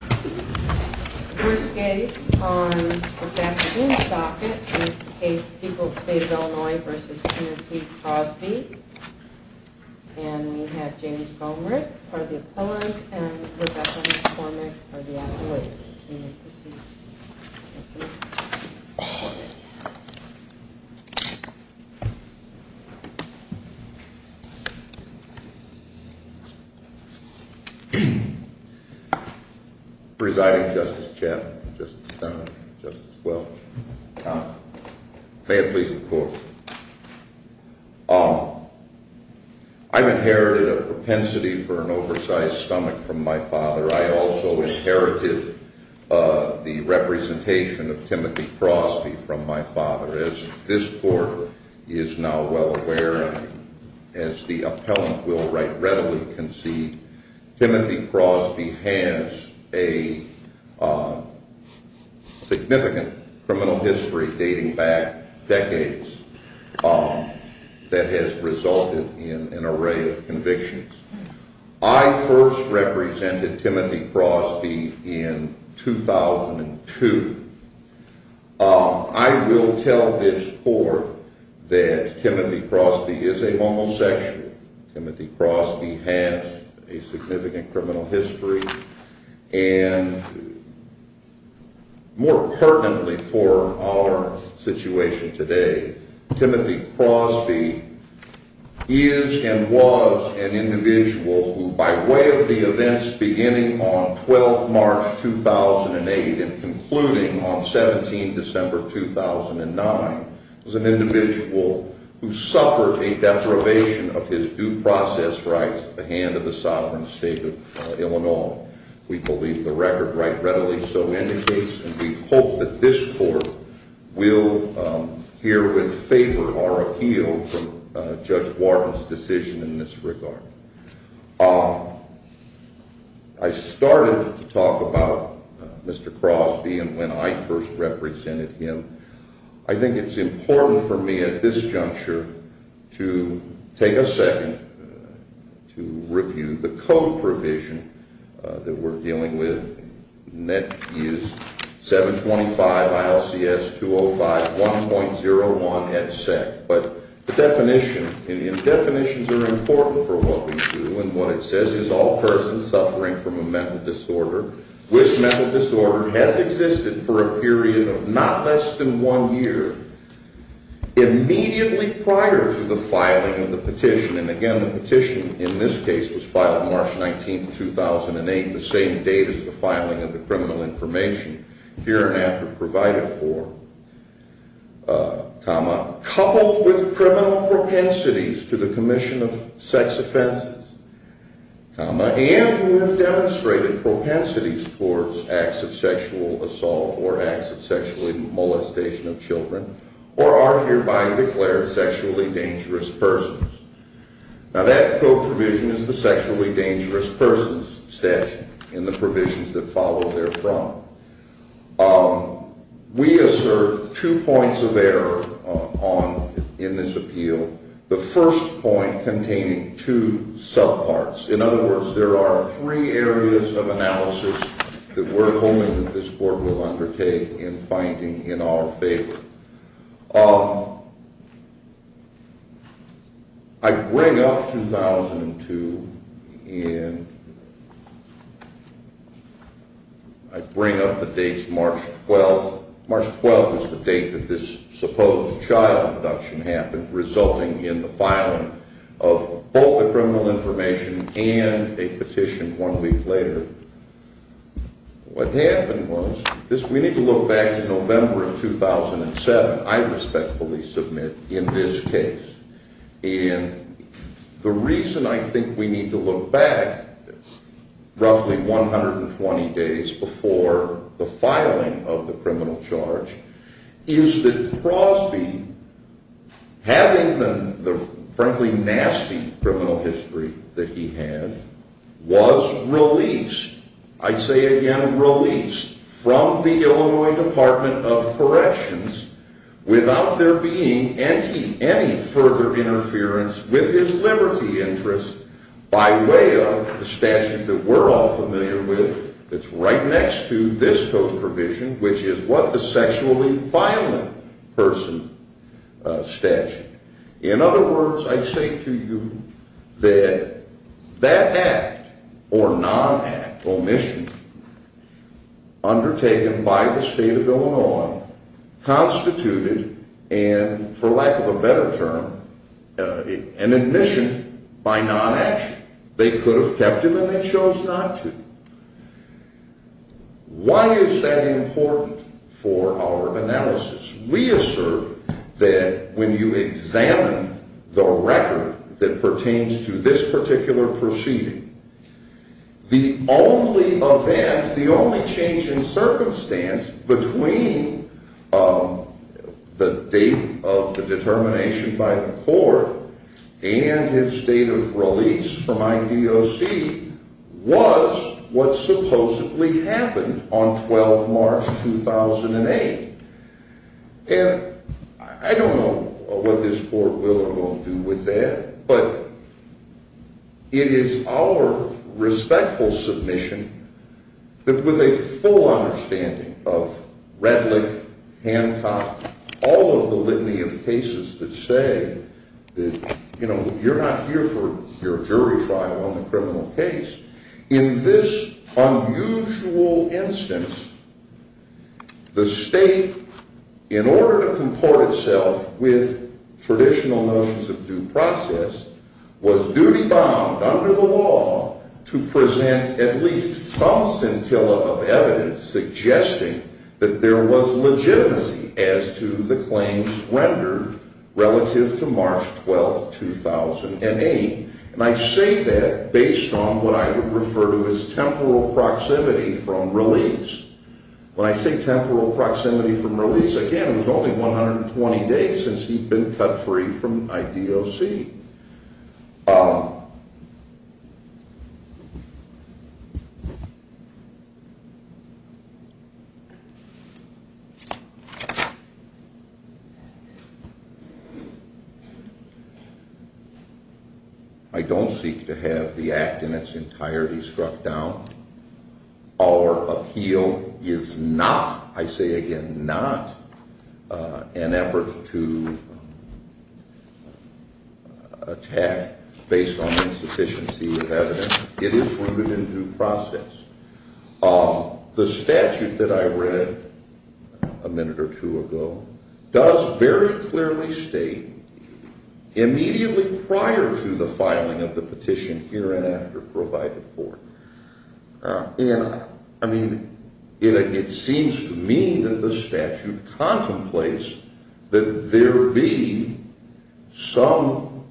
First case on this afternoon's docket is the case of the people of the state of Illinois v. Kennedy v. Crosby. And we have James Gomerick for the opponent and Rebecca McCormick for the advocate. Can you proceed? Presiding Justice Chapman, Justice Dunlap, Justice Welch, Tom, may it please the Court. I've inherited a propensity for an oversized stomach from my father. I also inherited the representation of Timothy Crosby from my father. As this Court is now well aware and as the appellant will readily concede, Timothy Crosby has a significant criminal history dating back decades that has resulted in an array of convictions. I first represented Timothy Crosby in 2002. I will tell this Court that Timothy Crosby is a homosexual. Timothy Crosby has a significant criminal history and more pertinently for our situation today, Timothy Crosby is and was an individual who by way of the events beginning on 12 March 2008 and concluding on 17 December 2009, was an individual who suffered a deprivation of his due process rights at the hand of the sovereign state of Illinois. We believe the record right readily so indicates and we hope that this Court will herewith favor our appeal from Judge Wharton's decision in this regard. I started to talk about Mr. Crosby and when I first represented him. I think it's important for me at this juncture to take a second to review the code provision that we're dealing with, and that is 725 ILCS 205 1.01 headset. But the definitions are important for what we do and what it says is all persons suffering from a mental disorder, which mental disorder has existed for a period of not less than one year, immediately prior to the filing of the petition. And again, the petition in this case was filed March 19, 2008, the same date as the filing of the criminal information here and after provided for, coupled with criminal propensities to the commission of sex offenses, and who have demonstrated propensities towards acts of sexual assault or acts of sexually molestation of children, or are hereby declared sexually dangerous persons. Now that code provision is the sexually dangerous persons statute in the provisions that follow therefrom. We assert two points of error in this appeal. The first point containing two subparts. In other words, there are three areas of analysis that we're hoping that this Court will undertake in finding in our favor. I bring up 2002 and I bring up the dates March 12. March 12 is the date that this supposed child abduction happened, resulting in the filing of both the criminal information and a petition one week later. What happened was, we need to look back to November of 2007, I respectfully submit, in this case. And the reason I think we need to look back roughly 120 days before the filing of the criminal charge is that Crosby, having the frankly nasty criminal history that he had, was released, I say again released, from the Illinois Department of Corrections without there being any further interference with his liberty interest by way of the statute that we're all familiar with, that's right next to this code provision, which is what the sexually violent person statute. In other words, I say to you that that act or non-act, omission, undertaken by the State of Illinois, constituted, and for lack of a better term, an admission by non-action. They could have kept him and they chose not to. Why is that important for our analysis? We assert that when you examine the record that pertains to this particular proceeding, the only event, the only change in circumstance between the date of the determination by the court and his date of release from IDOC was what supposedly happened on 12 March 2008. And I don't know what this court will or won't do with that, but it is our respectful submission that with a full understanding of Redlich, Hancock, all of the litany of cases that say that you're not here for your jury trial on the criminal case, in this unusual instance, the state, in order to comport itself with traditional notions of due process, was duty-bound under the law to present at least some scintilla of evidence suggesting that there was legitimacy as to the claims rendered relative to March 12, 2008. And I say that based on what I would refer to as temporal proximity from release. When I say temporal proximity from release, again, it was only 120 days since he'd been cut free from IDOC. I don't seek to have the act in its entirety struck down. Our appeal is not, I say again, not an effort to attack based on insufficiency of evidence. It is rooted in due process. The statute that I read a minute or two ago does very clearly state immediately prior to the filing of the petition, here and after, provided for. And I mean, it seems to me that the statute contemplates that there be some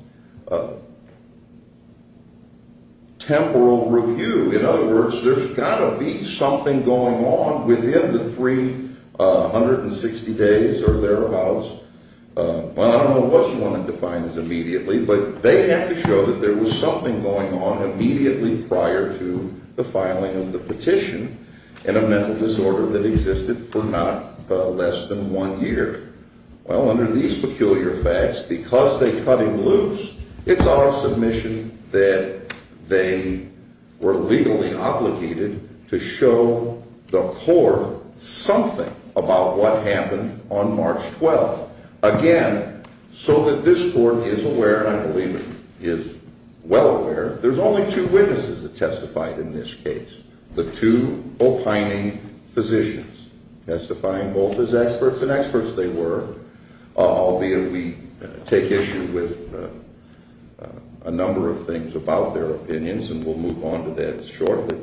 temporal review. In other words, there's got to be something going on within the 360 days or thereabouts. Well, I don't know what you want to define as immediately, but they have to show that there was something going on immediately prior to the filing of the petition in a mental disorder that existed for not less than one year. Well, under these peculiar facts, because they cut him loose, it's our submission that they were legally obligated to show the court something about what happened on March 12. Again, so that this court is aware, and I believe it is well aware, there's only two witnesses that testified in this case. The two opining physicians testifying both as experts, and experts they were, albeit we take issue with a number of things about their opinions, and we'll move on to that shortly.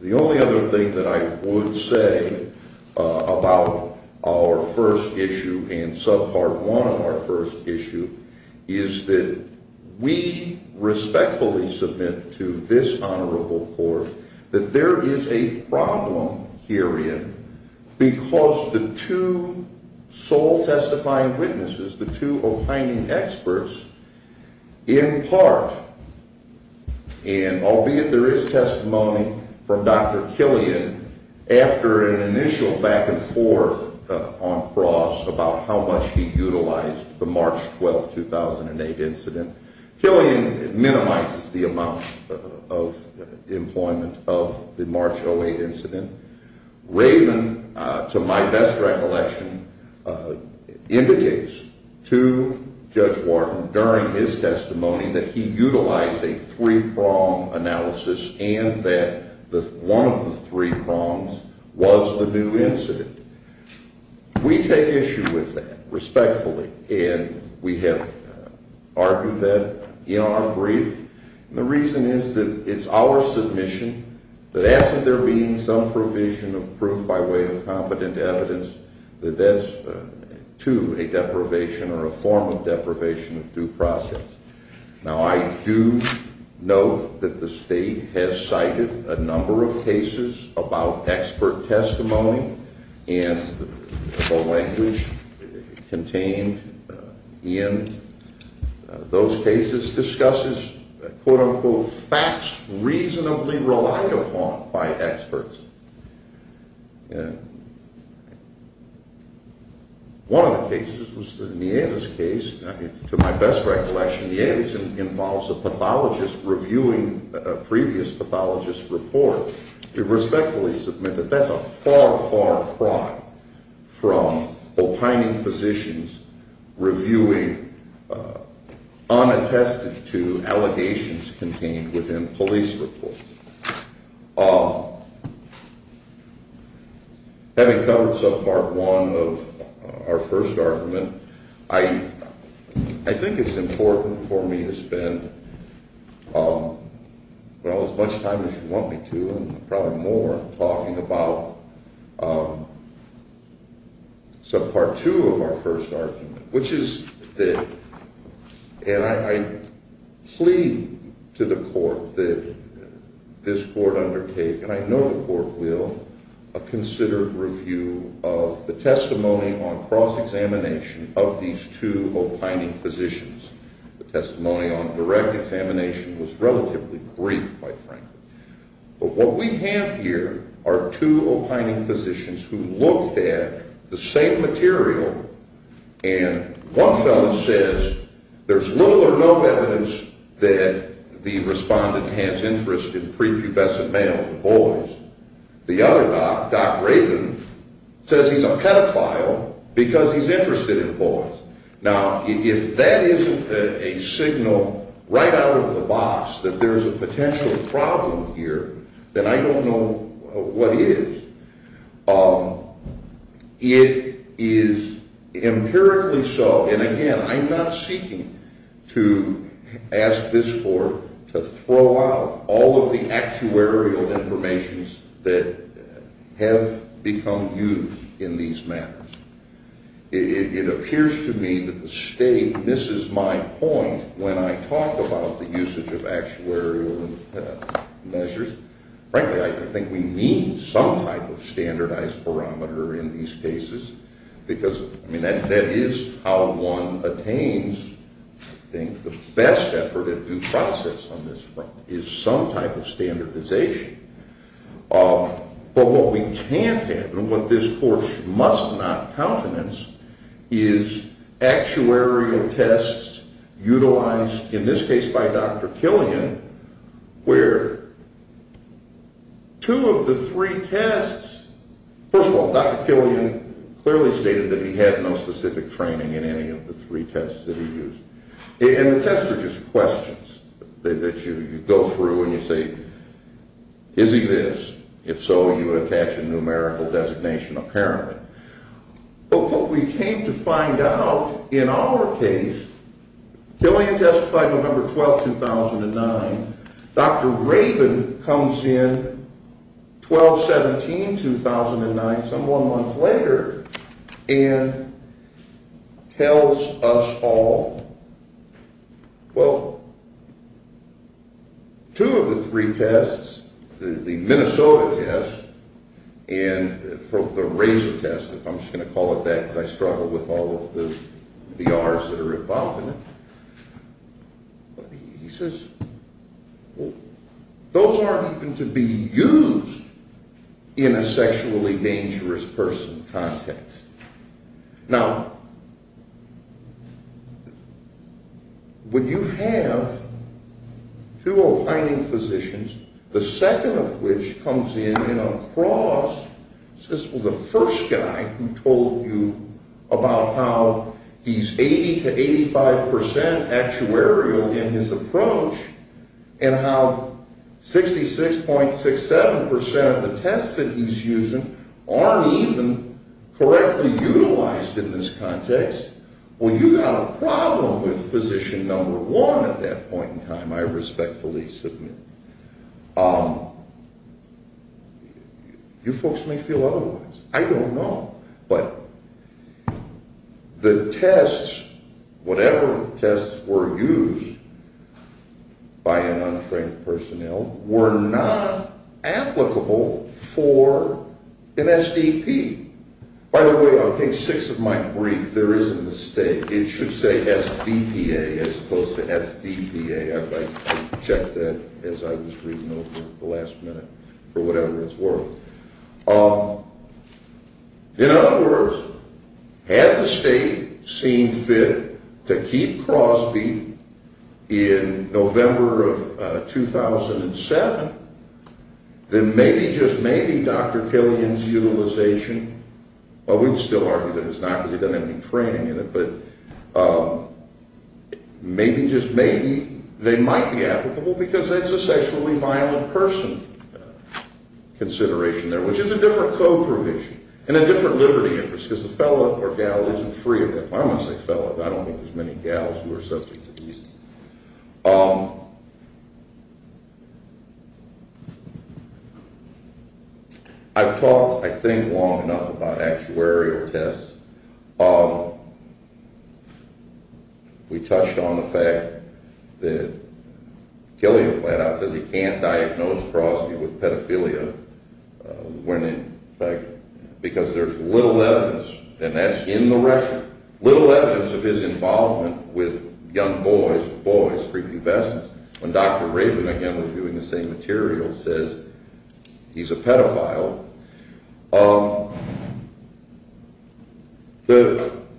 The only other thing that I would say about our first issue and subpart one of our first issue is that we respectfully submit to this honorable court that there is a problem herein because the two sole testifying witnesses, the two opining experts, in part, and albeit there is testimony from Dr. Killian after an initial back and forth on Cross about how much he utilized the March 12, 2008 incident. Killian minimizes the amount of employment of the March 08 incident. Raven, to my best recollection, indicates to Judge Wharton during his testimony that he utilized a three-prong analysis and that one of the three prongs was the new incident. We take issue with that respectfully, and we have argued that in our brief, and the reason is that it's our submission that as if there being some provision of proof by way of competent evidence that that's to a deprivation or a form of deprivation of due process. Now, I do note that the state has cited a number of cases about expert testimony, and the language contained in those cases discusses quote-unquote facts reasonably relied upon by experts. One of the cases was the Nieves case. To my best recollection, Nieves involves a pathologist reviewing a previous pathologist's report. We respectfully submit that that's a far, far cry from opining physicians reviewing unattested to allegations contained within police reports. Having covered subpart one of our first argument, I think it's important for me to spend, well, as much time as you want me to and probably more talking about subpart two of our first argument, which is that, and I plead to the court that this court undertake, and I know the court will, a considered review of the testimony on cross-examination of these two opining physicians. The testimony on direct examination was relatively brief, quite frankly. But what we have here are two opining physicians who looked at the same material, and one fellow says there's little or no evidence that the respondent has interest in prepubescent males, boys. The other doc, Doc Rabin, says he's a pedophile because he's interested in boys. Now, if that isn't a signal right out of the box that there's a potential problem here, then I don't know what is. It is empirically so, and again, I'm not seeking to ask this court to throw out all of the actuarial information that have become used in these matters. It appears to me that the state misses my point when I talk about the usage of actuarial measures. Frankly, I think we need some type of standardized barometer in these cases because, I mean, that is how one attains, I think, the best effort at due process on this front is some type of standardization. But what we can't have and what this court must not countenance is actuarial tests utilized, in this case by Dr. Killian, where two of the three tests… First of all, Dr. Killian clearly stated that he had no specific training in any of the three tests that he used, and the tests are just questions that you go through and you say, is he this? If so, you attach a numerical designation apparently. But what we came to find out in our case, Killian testified November 12, 2009. Dr. Raven comes in 12-17, 2009, some one month later, and tells us all, well, two of the three tests, the Minnesota test and the Razor test, if I'm just going to call it that because I struggle with all of the R's that are involved in it, he says, those aren't even to be used in a sexually dangerous person context. Now, when you have two aligning physicians, the second of which comes in in a cross, says, well, the first guy who told you about how he's 80 to 85 percent actuarial in his approach and how 66.67 percent of the tests that he's using aren't even correctly utilized in this context, well, you've got a problem with physician number one at that point in time, I respectfully submit. You folks may feel otherwise. I don't know. But the tests, whatever tests were used by an untrained personnel, were not applicable for an SDP. By the way, on page six of my brief, there is a mistake. It should say SBPA as opposed to SDPA. I checked that as I was reading over the last minute or whatever it's worth. In other words, had the state seen fit to keep Crosby in November of 2007, then maybe, just maybe, Dr. Killian's utilization, well, we'd still argue that it's not because he doesn't have any training in it, but maybe, just maybe, they might be applicable because it's a sexually violent person consideration there, which is a different co-provision and a different liberty interest because the fella or gal isn't free of it. I don't want to say fella, but I don't think there's many gals who are subject to these. I've talked, I think, long enough about actuarial tests. We touched on the fact that Killian flat out says he can't diagnose Crosby with pedophilia when in fact, because there's little evidence, and that's in the record, little evidence of his involvement with young boys, boys, pre-pubescence. When Dr. Raven, again, was doing the same material, says he's a pedophile,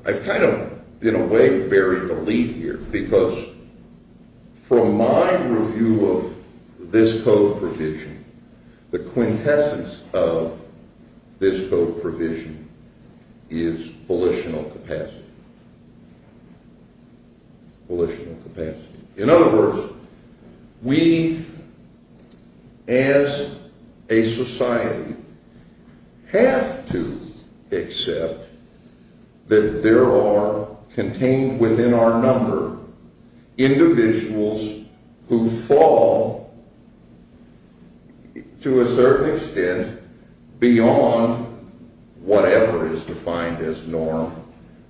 I've kind of, in a way, buried the lead here because from my review of this co-provision, the quintessence of this co-provision is volitional capacity. In other words, we, as a society, have to accept that there are, contained within our number, individuals who fall, to a certain extent, beyond whatever is defined as norm.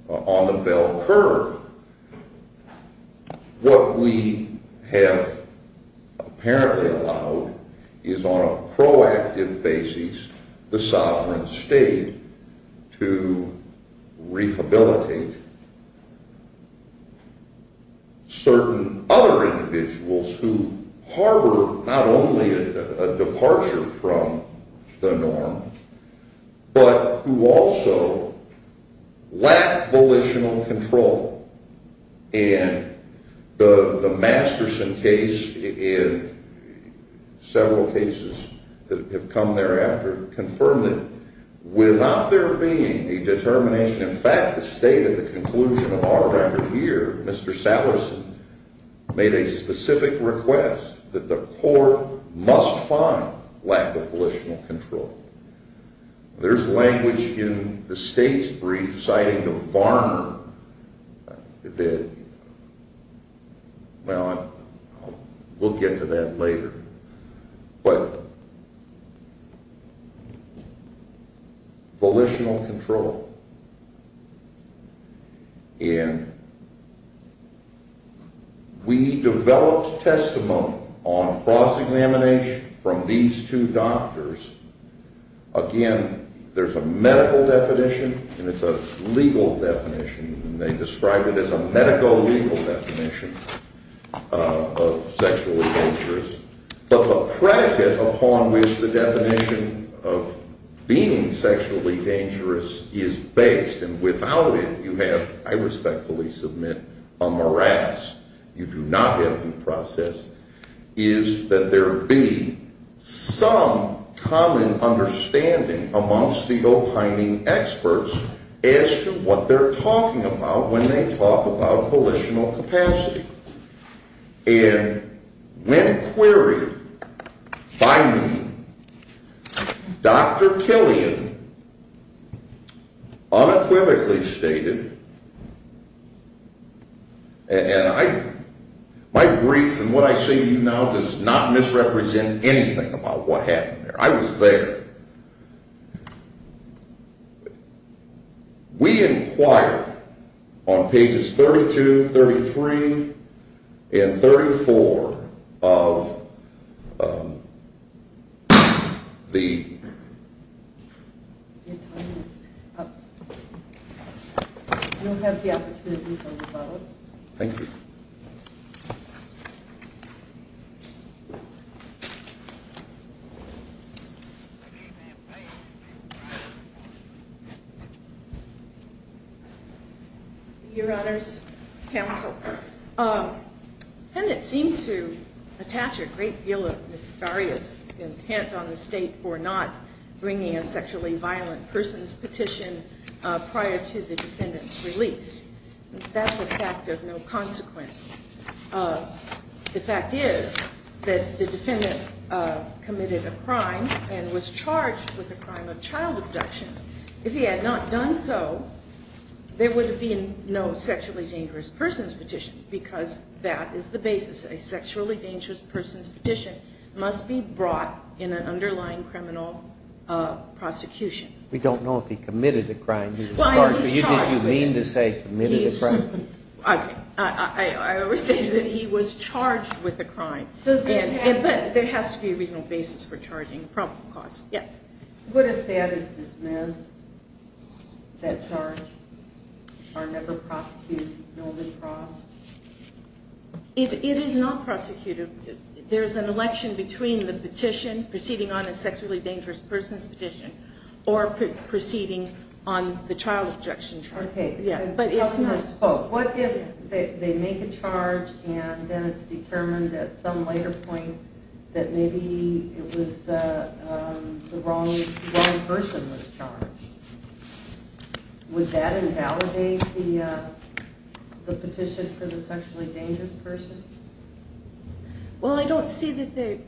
On the bell curve, what we have apparently allowed is, on a proactive basis, the sovereign state to rehabilitate certain other individuals who harbor not only a departure from the norm, but who also lack volitional control. And the Masterson case, and several cases that have come thereafter, confirm that without there being a determination, in fact, the state at the conclusion of our record here, Mr. Sallison, made a specific request that the court must find lack of volitional control. There's language in the state's brief citing the farmer that, well, we'll get to that later, but volitional control. And we developed testimony on cross-examination from these two doctors. Again, there's a medical definition and it's a legal definition, and they describe it as a medical-legal definition of sexually dangerous. But the predicate upon which the definition of being sexually dangerous is based, and without it you have, I respectfully submit, a morass, you do not have due process, is that there be some common understanding amongst the opining experts as to what they're talking about when they talk about volitional capacity. And when queried by me, Dr. Killian unequivocally stated, and my brief and what I say to you now does not misrepresent anything about what happened there. I was there. We inquire on pages 32, 33, and 34 of the… Your time is up. You'll have the opportunity to vote. Thank you. Your Honor's counsel, the defendant seems to attach a great deal of nefarious intent on the state for not bringing a sexually violent person's petition prior to the defendant's release. That's a fact of no consequence. The fact is that the defendant committed a crime and was charged with a crime of child abduction. If he had not done so, there would have been no sexually dangerous person's petition because that is the basis. A sexually dangerous person's petition must be brought in an underlying criminal prosecution. We don't know if he committed a crime. You didn't mean to say committed a crime. I was saying that he was charged with a crime. But there has to be a reasonable basis for charging a probable cause. Yes. But if that is dismissed, that charge, are never prosecuted, no lacrosse? It is not prosecuted. There is an election between the petition proceeding on a sexually dangerous person's petition or proceeding on the child abduction charge. What if they make a charge and then it's determined at some later point that maybe the wrong person was charged? Would that invalidate the petition for the sexually dangerous person? Well, I don't see that they...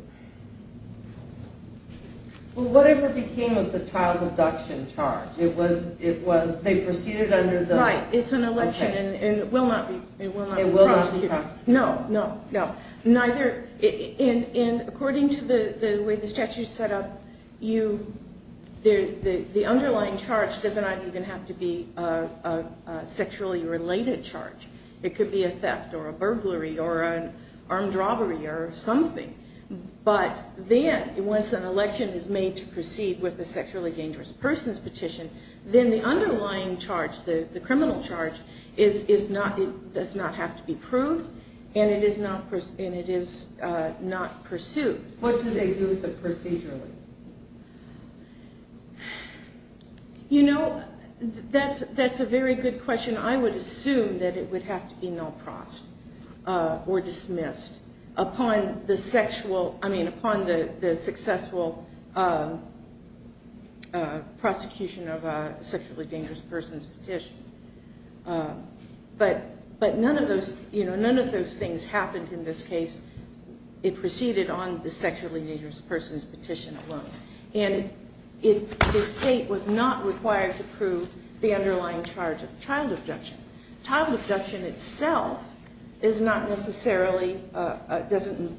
Well, whatever became of the child abduction charge, they proceeded under the... Right, it's an election and it will not be prosecuted. It will not be prosecuted. No, no, no. According to the way the statute is set up, the underlying charge does not even have to be a sexually related charge. It could be a theft or a burglary or an armed robbery or something. But then, once an election is made to proceed with a sexually dangerous person's petition, then the underlying charge, the criminal charge, does not have to be proved and it is not pursued. What do they do procedurally? You know, that's a very good question. I would assume that it would have to be null-prossed or dismissed upon the successful prosecution of a sexually dangerous person's petition. But none of those things happened in this case. It proceeded on the sexually dangerous person's petition alone. And the state was not required to prove the underlying charge of child abduction. Child abduction itself doesn't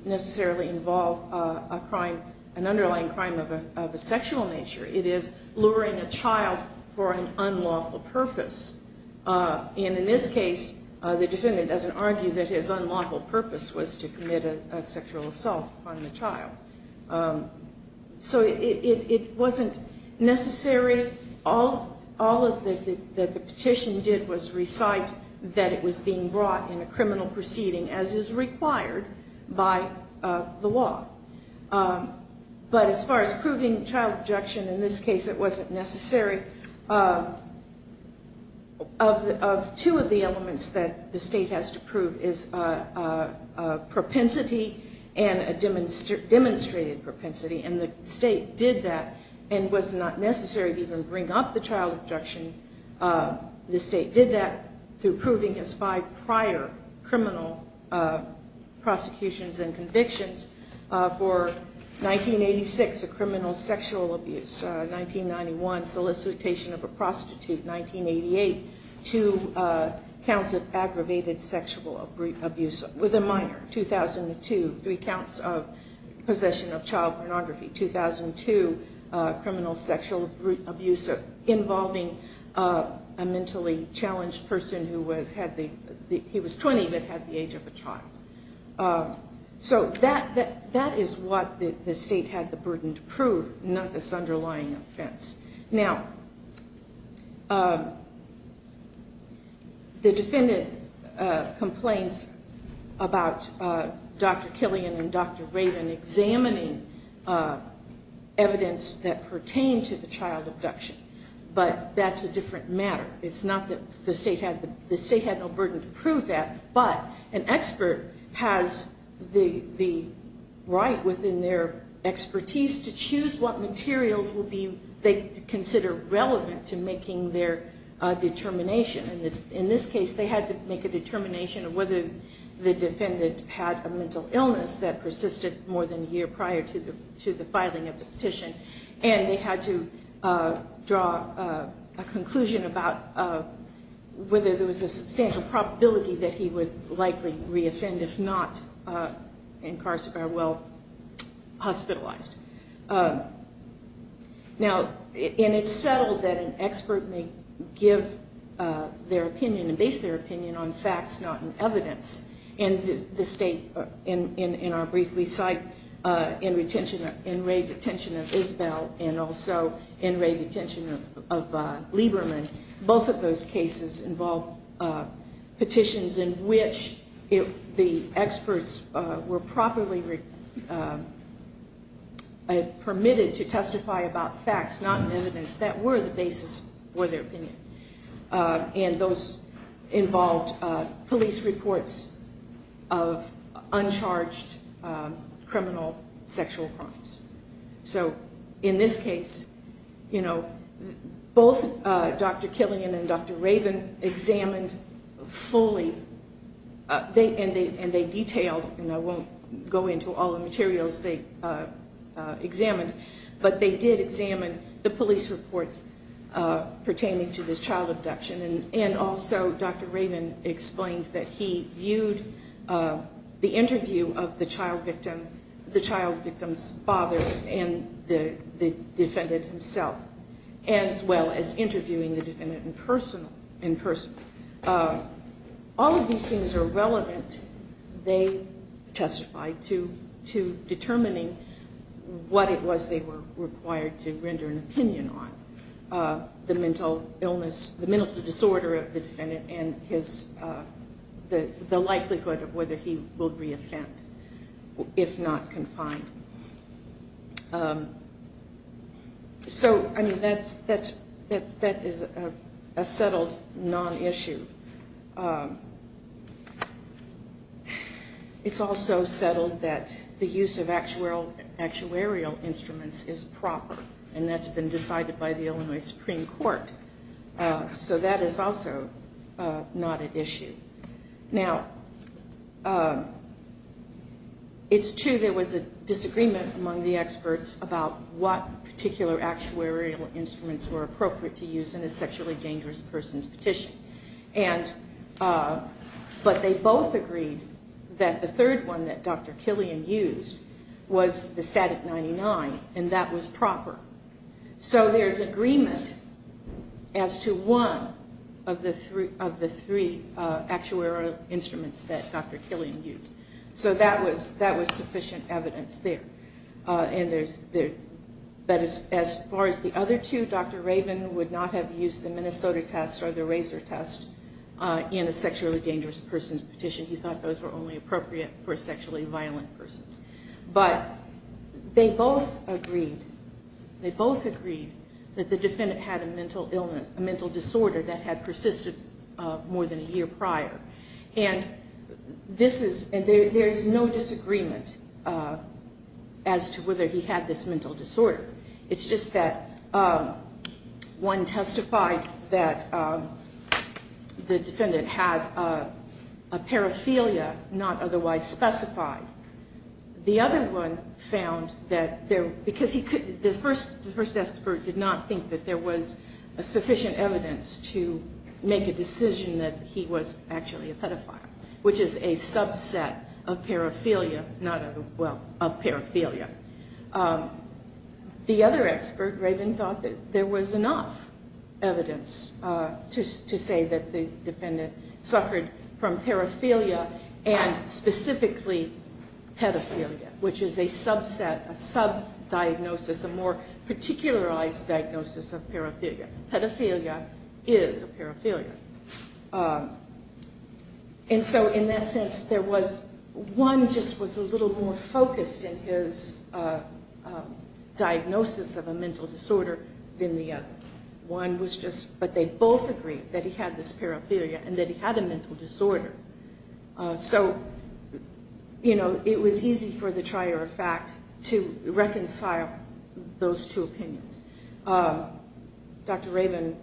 necessarily involve an underlying crime of a sexual nature. It is luring a child for an unlawful purpose. And in this case, the defendant doesn't argue that his unlawful purpose was to commit a sexual assault on the child. So it wasn't necessary. All that the petition did was recite that it was being brought in a criminal proceeding as is required by the law. But as far as proving child abduction, in this case it wasn't necessary. Of two of the elements that the state has to prove is propensity and demonstrated propensity. And the state did that and was not necessary to even bring up the child abduction. The state did that through proving his five prior criminal prosecutions and convictions. For 1986, a criminal sexual abuse. 1991, solicitation of a prostitute. 1988, two counts of aggravated sexual abuse with a minor. 2002, three counts of possession of child pornography. 2002, criminal sexual abuse involving a mentally challenged person who was 20 but had the age of a child. So that is what the state had the burden to prove, not this underlying offense. Now, the defendant complains about Dr. Killian and Dr. Raven examining evidence that pertained to the child abduction. But that's a different matter. It's not that the state had no burden to prove that. But an expert has the right within their expertise to choose what materials they consider relevant to making their determination. In this case, they had to make a determination of whether the defendant had a mental illness that persisted more than a year prior to the filing of the petition. And they had to draw a conclusion about whether there was a substantial probability that he would likely re-offend if not incarcerated or hospitalized. Now, and it's settled that an expert may give their opinion and base their opinion on facts, not on evidence. And the state, in our briefly cite, in rape detention of Isabel and also in rape detention of Lieberman, both of those cases involved petitions in which the experts were properly permitted to testify about facts, not evidence, that were the basis for their opinion. And those involved police reports of uncharged criminal sexual crimes. So, in this case, both Dr. Killian and Dr. Raven examined fully, and they detailed, and I won't go into all the materials they examined, but they did examine the police reports pertaining to this child abduction. And also, Dr. Raven explains that he viewed the interview of the child victim's father and the defendant himself, as well as interviewing the defendant in person. All of these things are relevant, they testified, to determining what it was they were required to render an opinion on. The mental illness, the mental disorder of the defendant and the likelihood of whether he will re-offend if not confined. So, I mean, that is a settled non-issue. It's also settled that the use of actuarial instruments is proper, and that's been decided by the Illinois Supreme Court. So that is also not an issue. Now, it's true there was a disagreement among the experts about what particular actuarial instruments were appropriate to use in a sexually dangerous person's petition. But they both agreed that the third one that Dr. Killian used was the static 99, and that was proper. So there's agreement as to one of the three actuarial instruments that Dr. Killian used. So that was sufficient evidence there. But as far as the other two, Dr. Raven would not have used the Minnesota test or the Razor test in a sexually dangerous person's petition. He thought those were only appropriate for sexually violent persons. But they both agreed that the defendant had a mental illness, a mental disorder that had persisted more than a year prior. And there's no disagreement as to whether he had this mental disorder. It's just that one testified that the defendant had a paraphilia not otherwise specified. The other one found that because the first expert did not think that there was sufficient evidence to make a decision that he was actually a pedophile, which is a subset of paraphilia. Well, of paraphilia. The other expert, Raven, thought that there was enough evidence to say that the defendant suffered from paraphilia and specifically pedophilia, which is a subset, a sub-diagnosis, a more particularized diagnosis of paraphilia. Pedophilia is a paraphilia. And so in that sense, one just was a little more focused in his diagnosis of a mental disorder than the other. One was just, but they both agreed that he had this paraphilia and that he had a mental disorder. So, you know, it was easy for the trier of fact to reconcile those two opinions. Dr. Raven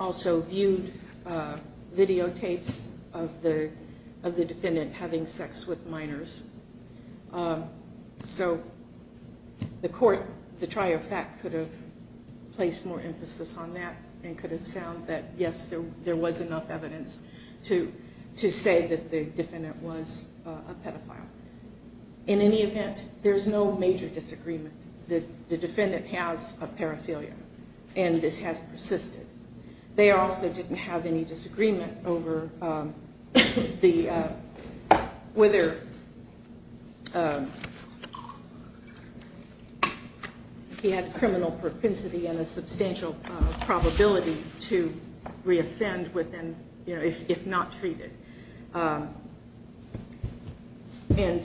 also viewed videotapes of the defendant having sex with minors. So the court, the trier of fact could have placed more emphasis on that and could have found that yes, there was enough evidence to say that the defendant was a pedophile. In any event, there's no major disagreement that the defendant has a paraphilia and this has persisted. They also didn't have any disagreement over whether he had criminal propensity and a substantial probability to re-offend if not treated. And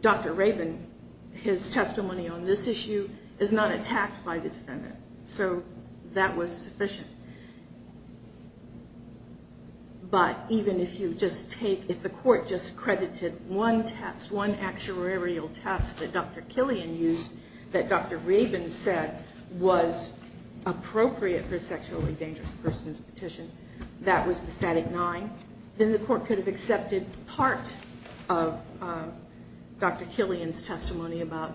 Dr. Raven, his testimony on this issue is not attacked by the defendant. So that was sufficient. But even if you just take, if the court just credited one test, one actuarial test that Dr. Killian used, that Dr. Raven said was appropriate for a sexually dangerous person's petition, that was the static nine, then the court could have accepted part of Dr. Killian's testimony about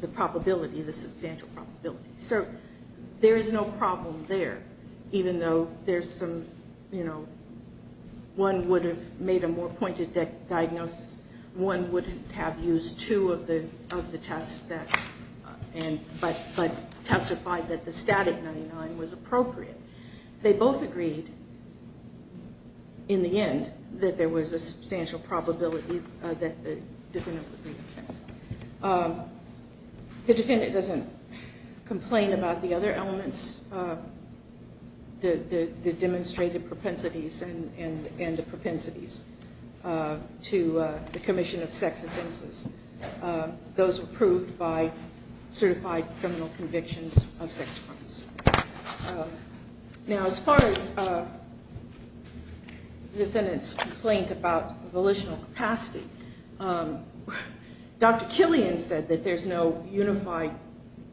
the probability, the substantial probability. So there is no problem there, even though there's some, you know, one would have made a more pointed diagnosis. One wouldn't have used two of the tests that, but testified that the static 99 was appropriate. They both agreed in the end that there was a substantial probability that the defendant would re-offend. The defendant doesn't complain about the other elements, the demonstrated propensities and the propensities to the commission of sex offenses. Those approved by certified criminal convictions of sex crimes. Now as far as the defendant's complaint about volitional capacity, Dr. Killian said that there's no unified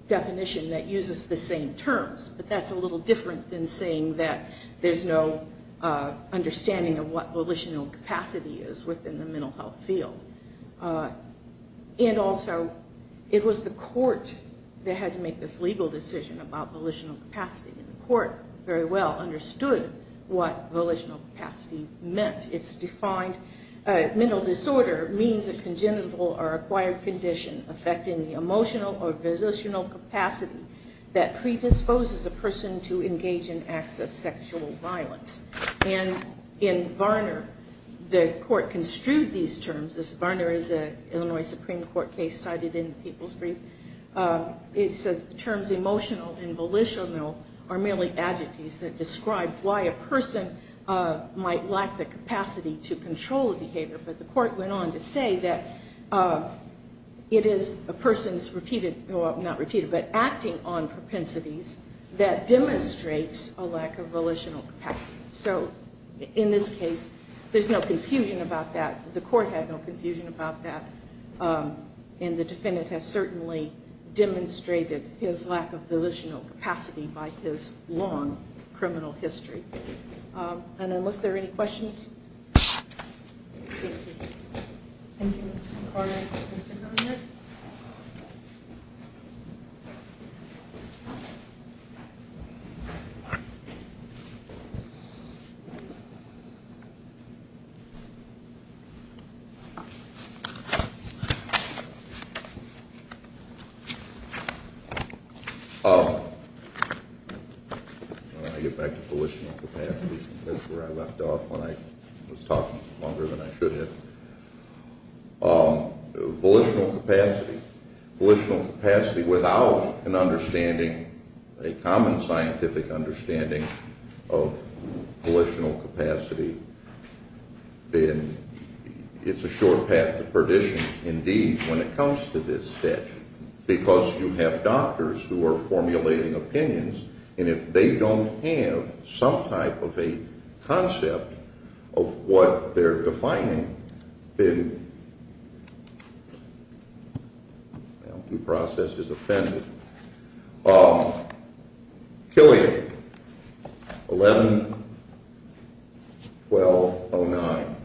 definition that uses the same terms, but that's a little different than saying that there's no understanding of what volitional capacity is within the mental health field. And also, it was the court that had to make this legal decision about volitional capacity, and the court very well understood what volitional capacity meant. It's defined, mental disorder means a congenital or acquired condition affecting the emotional or volitional capacity that predisposes a person to engage in acts of sexual violence. And in Varner, the court construed these terms. This Varner is an Illinois Supreme Court case cited in People's Brief. It says the terms emotional and volitional are merely adjectives that describe why a person might lack the capacity to control behavior. But the court went on to say that it is a person's repeated, well not repeated, but acting on propensities that demonstrates a lack of volitional capacity. So, in this case, there's no confusion about that. The court had no confusion about that. And the defendant has certainly demonstrated his lack of volitional capacity by his long criminal history. And unless there are any questions. Thank you. Thank you, Ms. Concord. Mr. Garnett. When I get back to volitional capacity, since that's where I left off when I was talking longer than I should have. Volitional capacity. Volitional capacity without an understanding, a common scientific understanding of volitional capacity, then it's a short path to perdition indeed when it comes to this statute. Because you have doctors who are formulating opinions, and if they don't have some type of a concept of what they're defining, then the process is offended. Killian, 11-1209.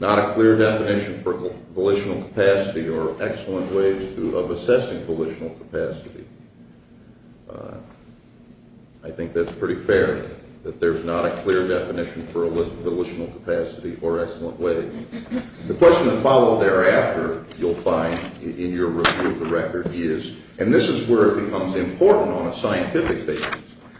Not a clear definition for volitional capacity or excellent ways of assessing volitional capacity. I think that's pretty fair, that there's not a clear definition for volitional capacity or excellent ways. The question that followed thereafter you'll find in your review of the record is, and this is where it becomes important on a scientific basis.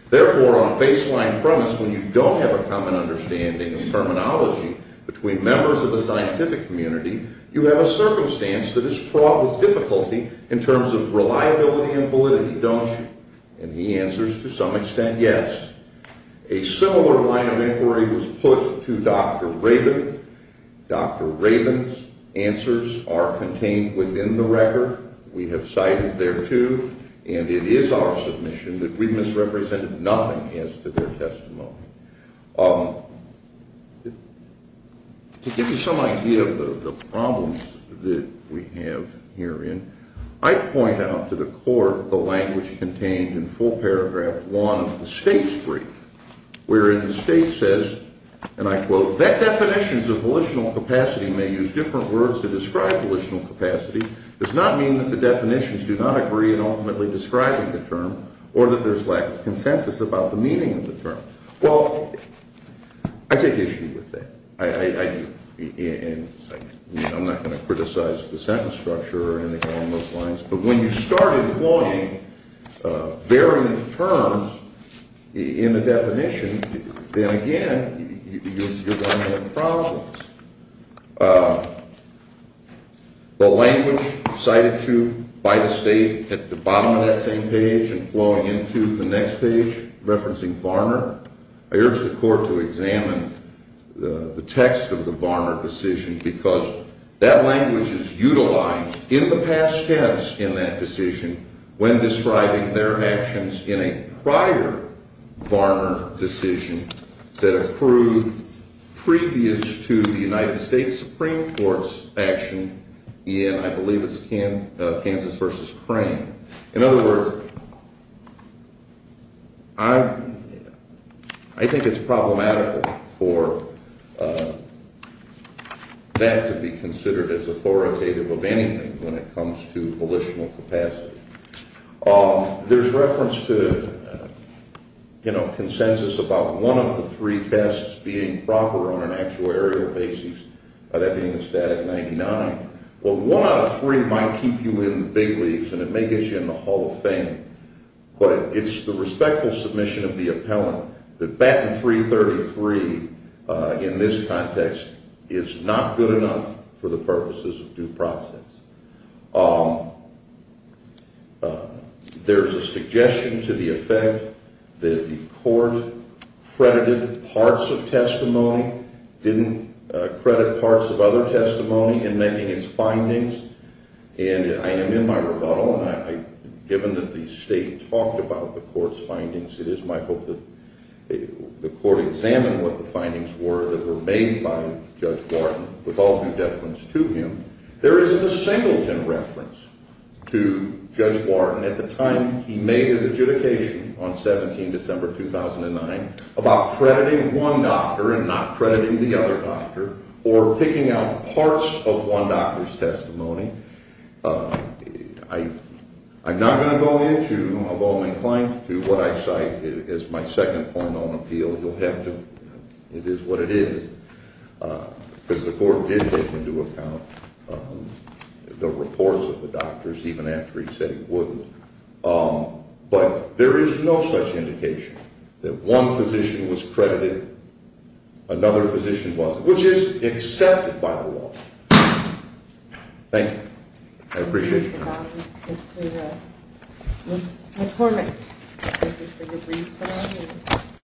Therefore, on baseline premise, when you don't have a common understanding of terminology between members of the scientific community, you have a circumstance that is fraught with difficulty in terms of reliability and validity, don't you? And he answers to some extent, yes. A similar line of inquiry was put to Dr. Rabin. Dr. Rabin's answers are contained within the record. We have cited thereto, and it is our submission that we misrepresented nothing as to their testimony. To give you some idea of the problems that we have herein, I point out to the court the language contained in full paragraph one of the state's brief, wherein the state says, and I quote, that definitions of volitional capacity may use different words to describe volitional capacity does not mean that the definitions do not agree in ultimately describing the term or that there's lack of consensus about the meaning of the term. Well, I take issue with that. I'm not going to criticize the sentence structure or anything along those lines, but when you start employing varying terms in the definition, then again, you're going to have problems. The language cited to by the state at the bottom of that same page and flowing into the next page referencing Varner, I urge the court to examine the text of the Varner decision because that language is utilized in the past tense in that decision when describing their actions in a prior Varner decision that accrued previous to the United States Supreme Court's action In other words, I think it's problematical for that to be considered as authoritative of anything when it comes to volitional capacity. There's reference to consensus about one of the three tests being proper on an actuarial basis, that being the static 99. Well, one out of three might keep you in the big leagues, and it may get you in the Hall of Fame, but it's the respectful submission of the appellant that Batten 333 in this context is not good enough for the purposes of due process. There's a suggestion to the effect that the court credited parts of testimony, didn't credit parts of other testimony in making its findings, and I am in my rebuttal, and given that the state talked about the court's findings, it is my hope that the court examine what the findings were that were made by Judge Wharton with all due deference to him. There isn't a singleton reference to Judge Wharton at the time he made his adjudication on 17 December 2009 about crediting one doctor and not crediting the other doctor or picking out parts of one doctor's testimony. I'm not going to go into, although I'm inclined to, what I cite as my second point on appeal. You'll have to. It is what it is. Because the court did take into account the reports of the doctors, even after he said he wouldn't. But there is no such indication that one physician was credited, another physician wasn't, which is accepted by the law. Thank you. I appreciate your time.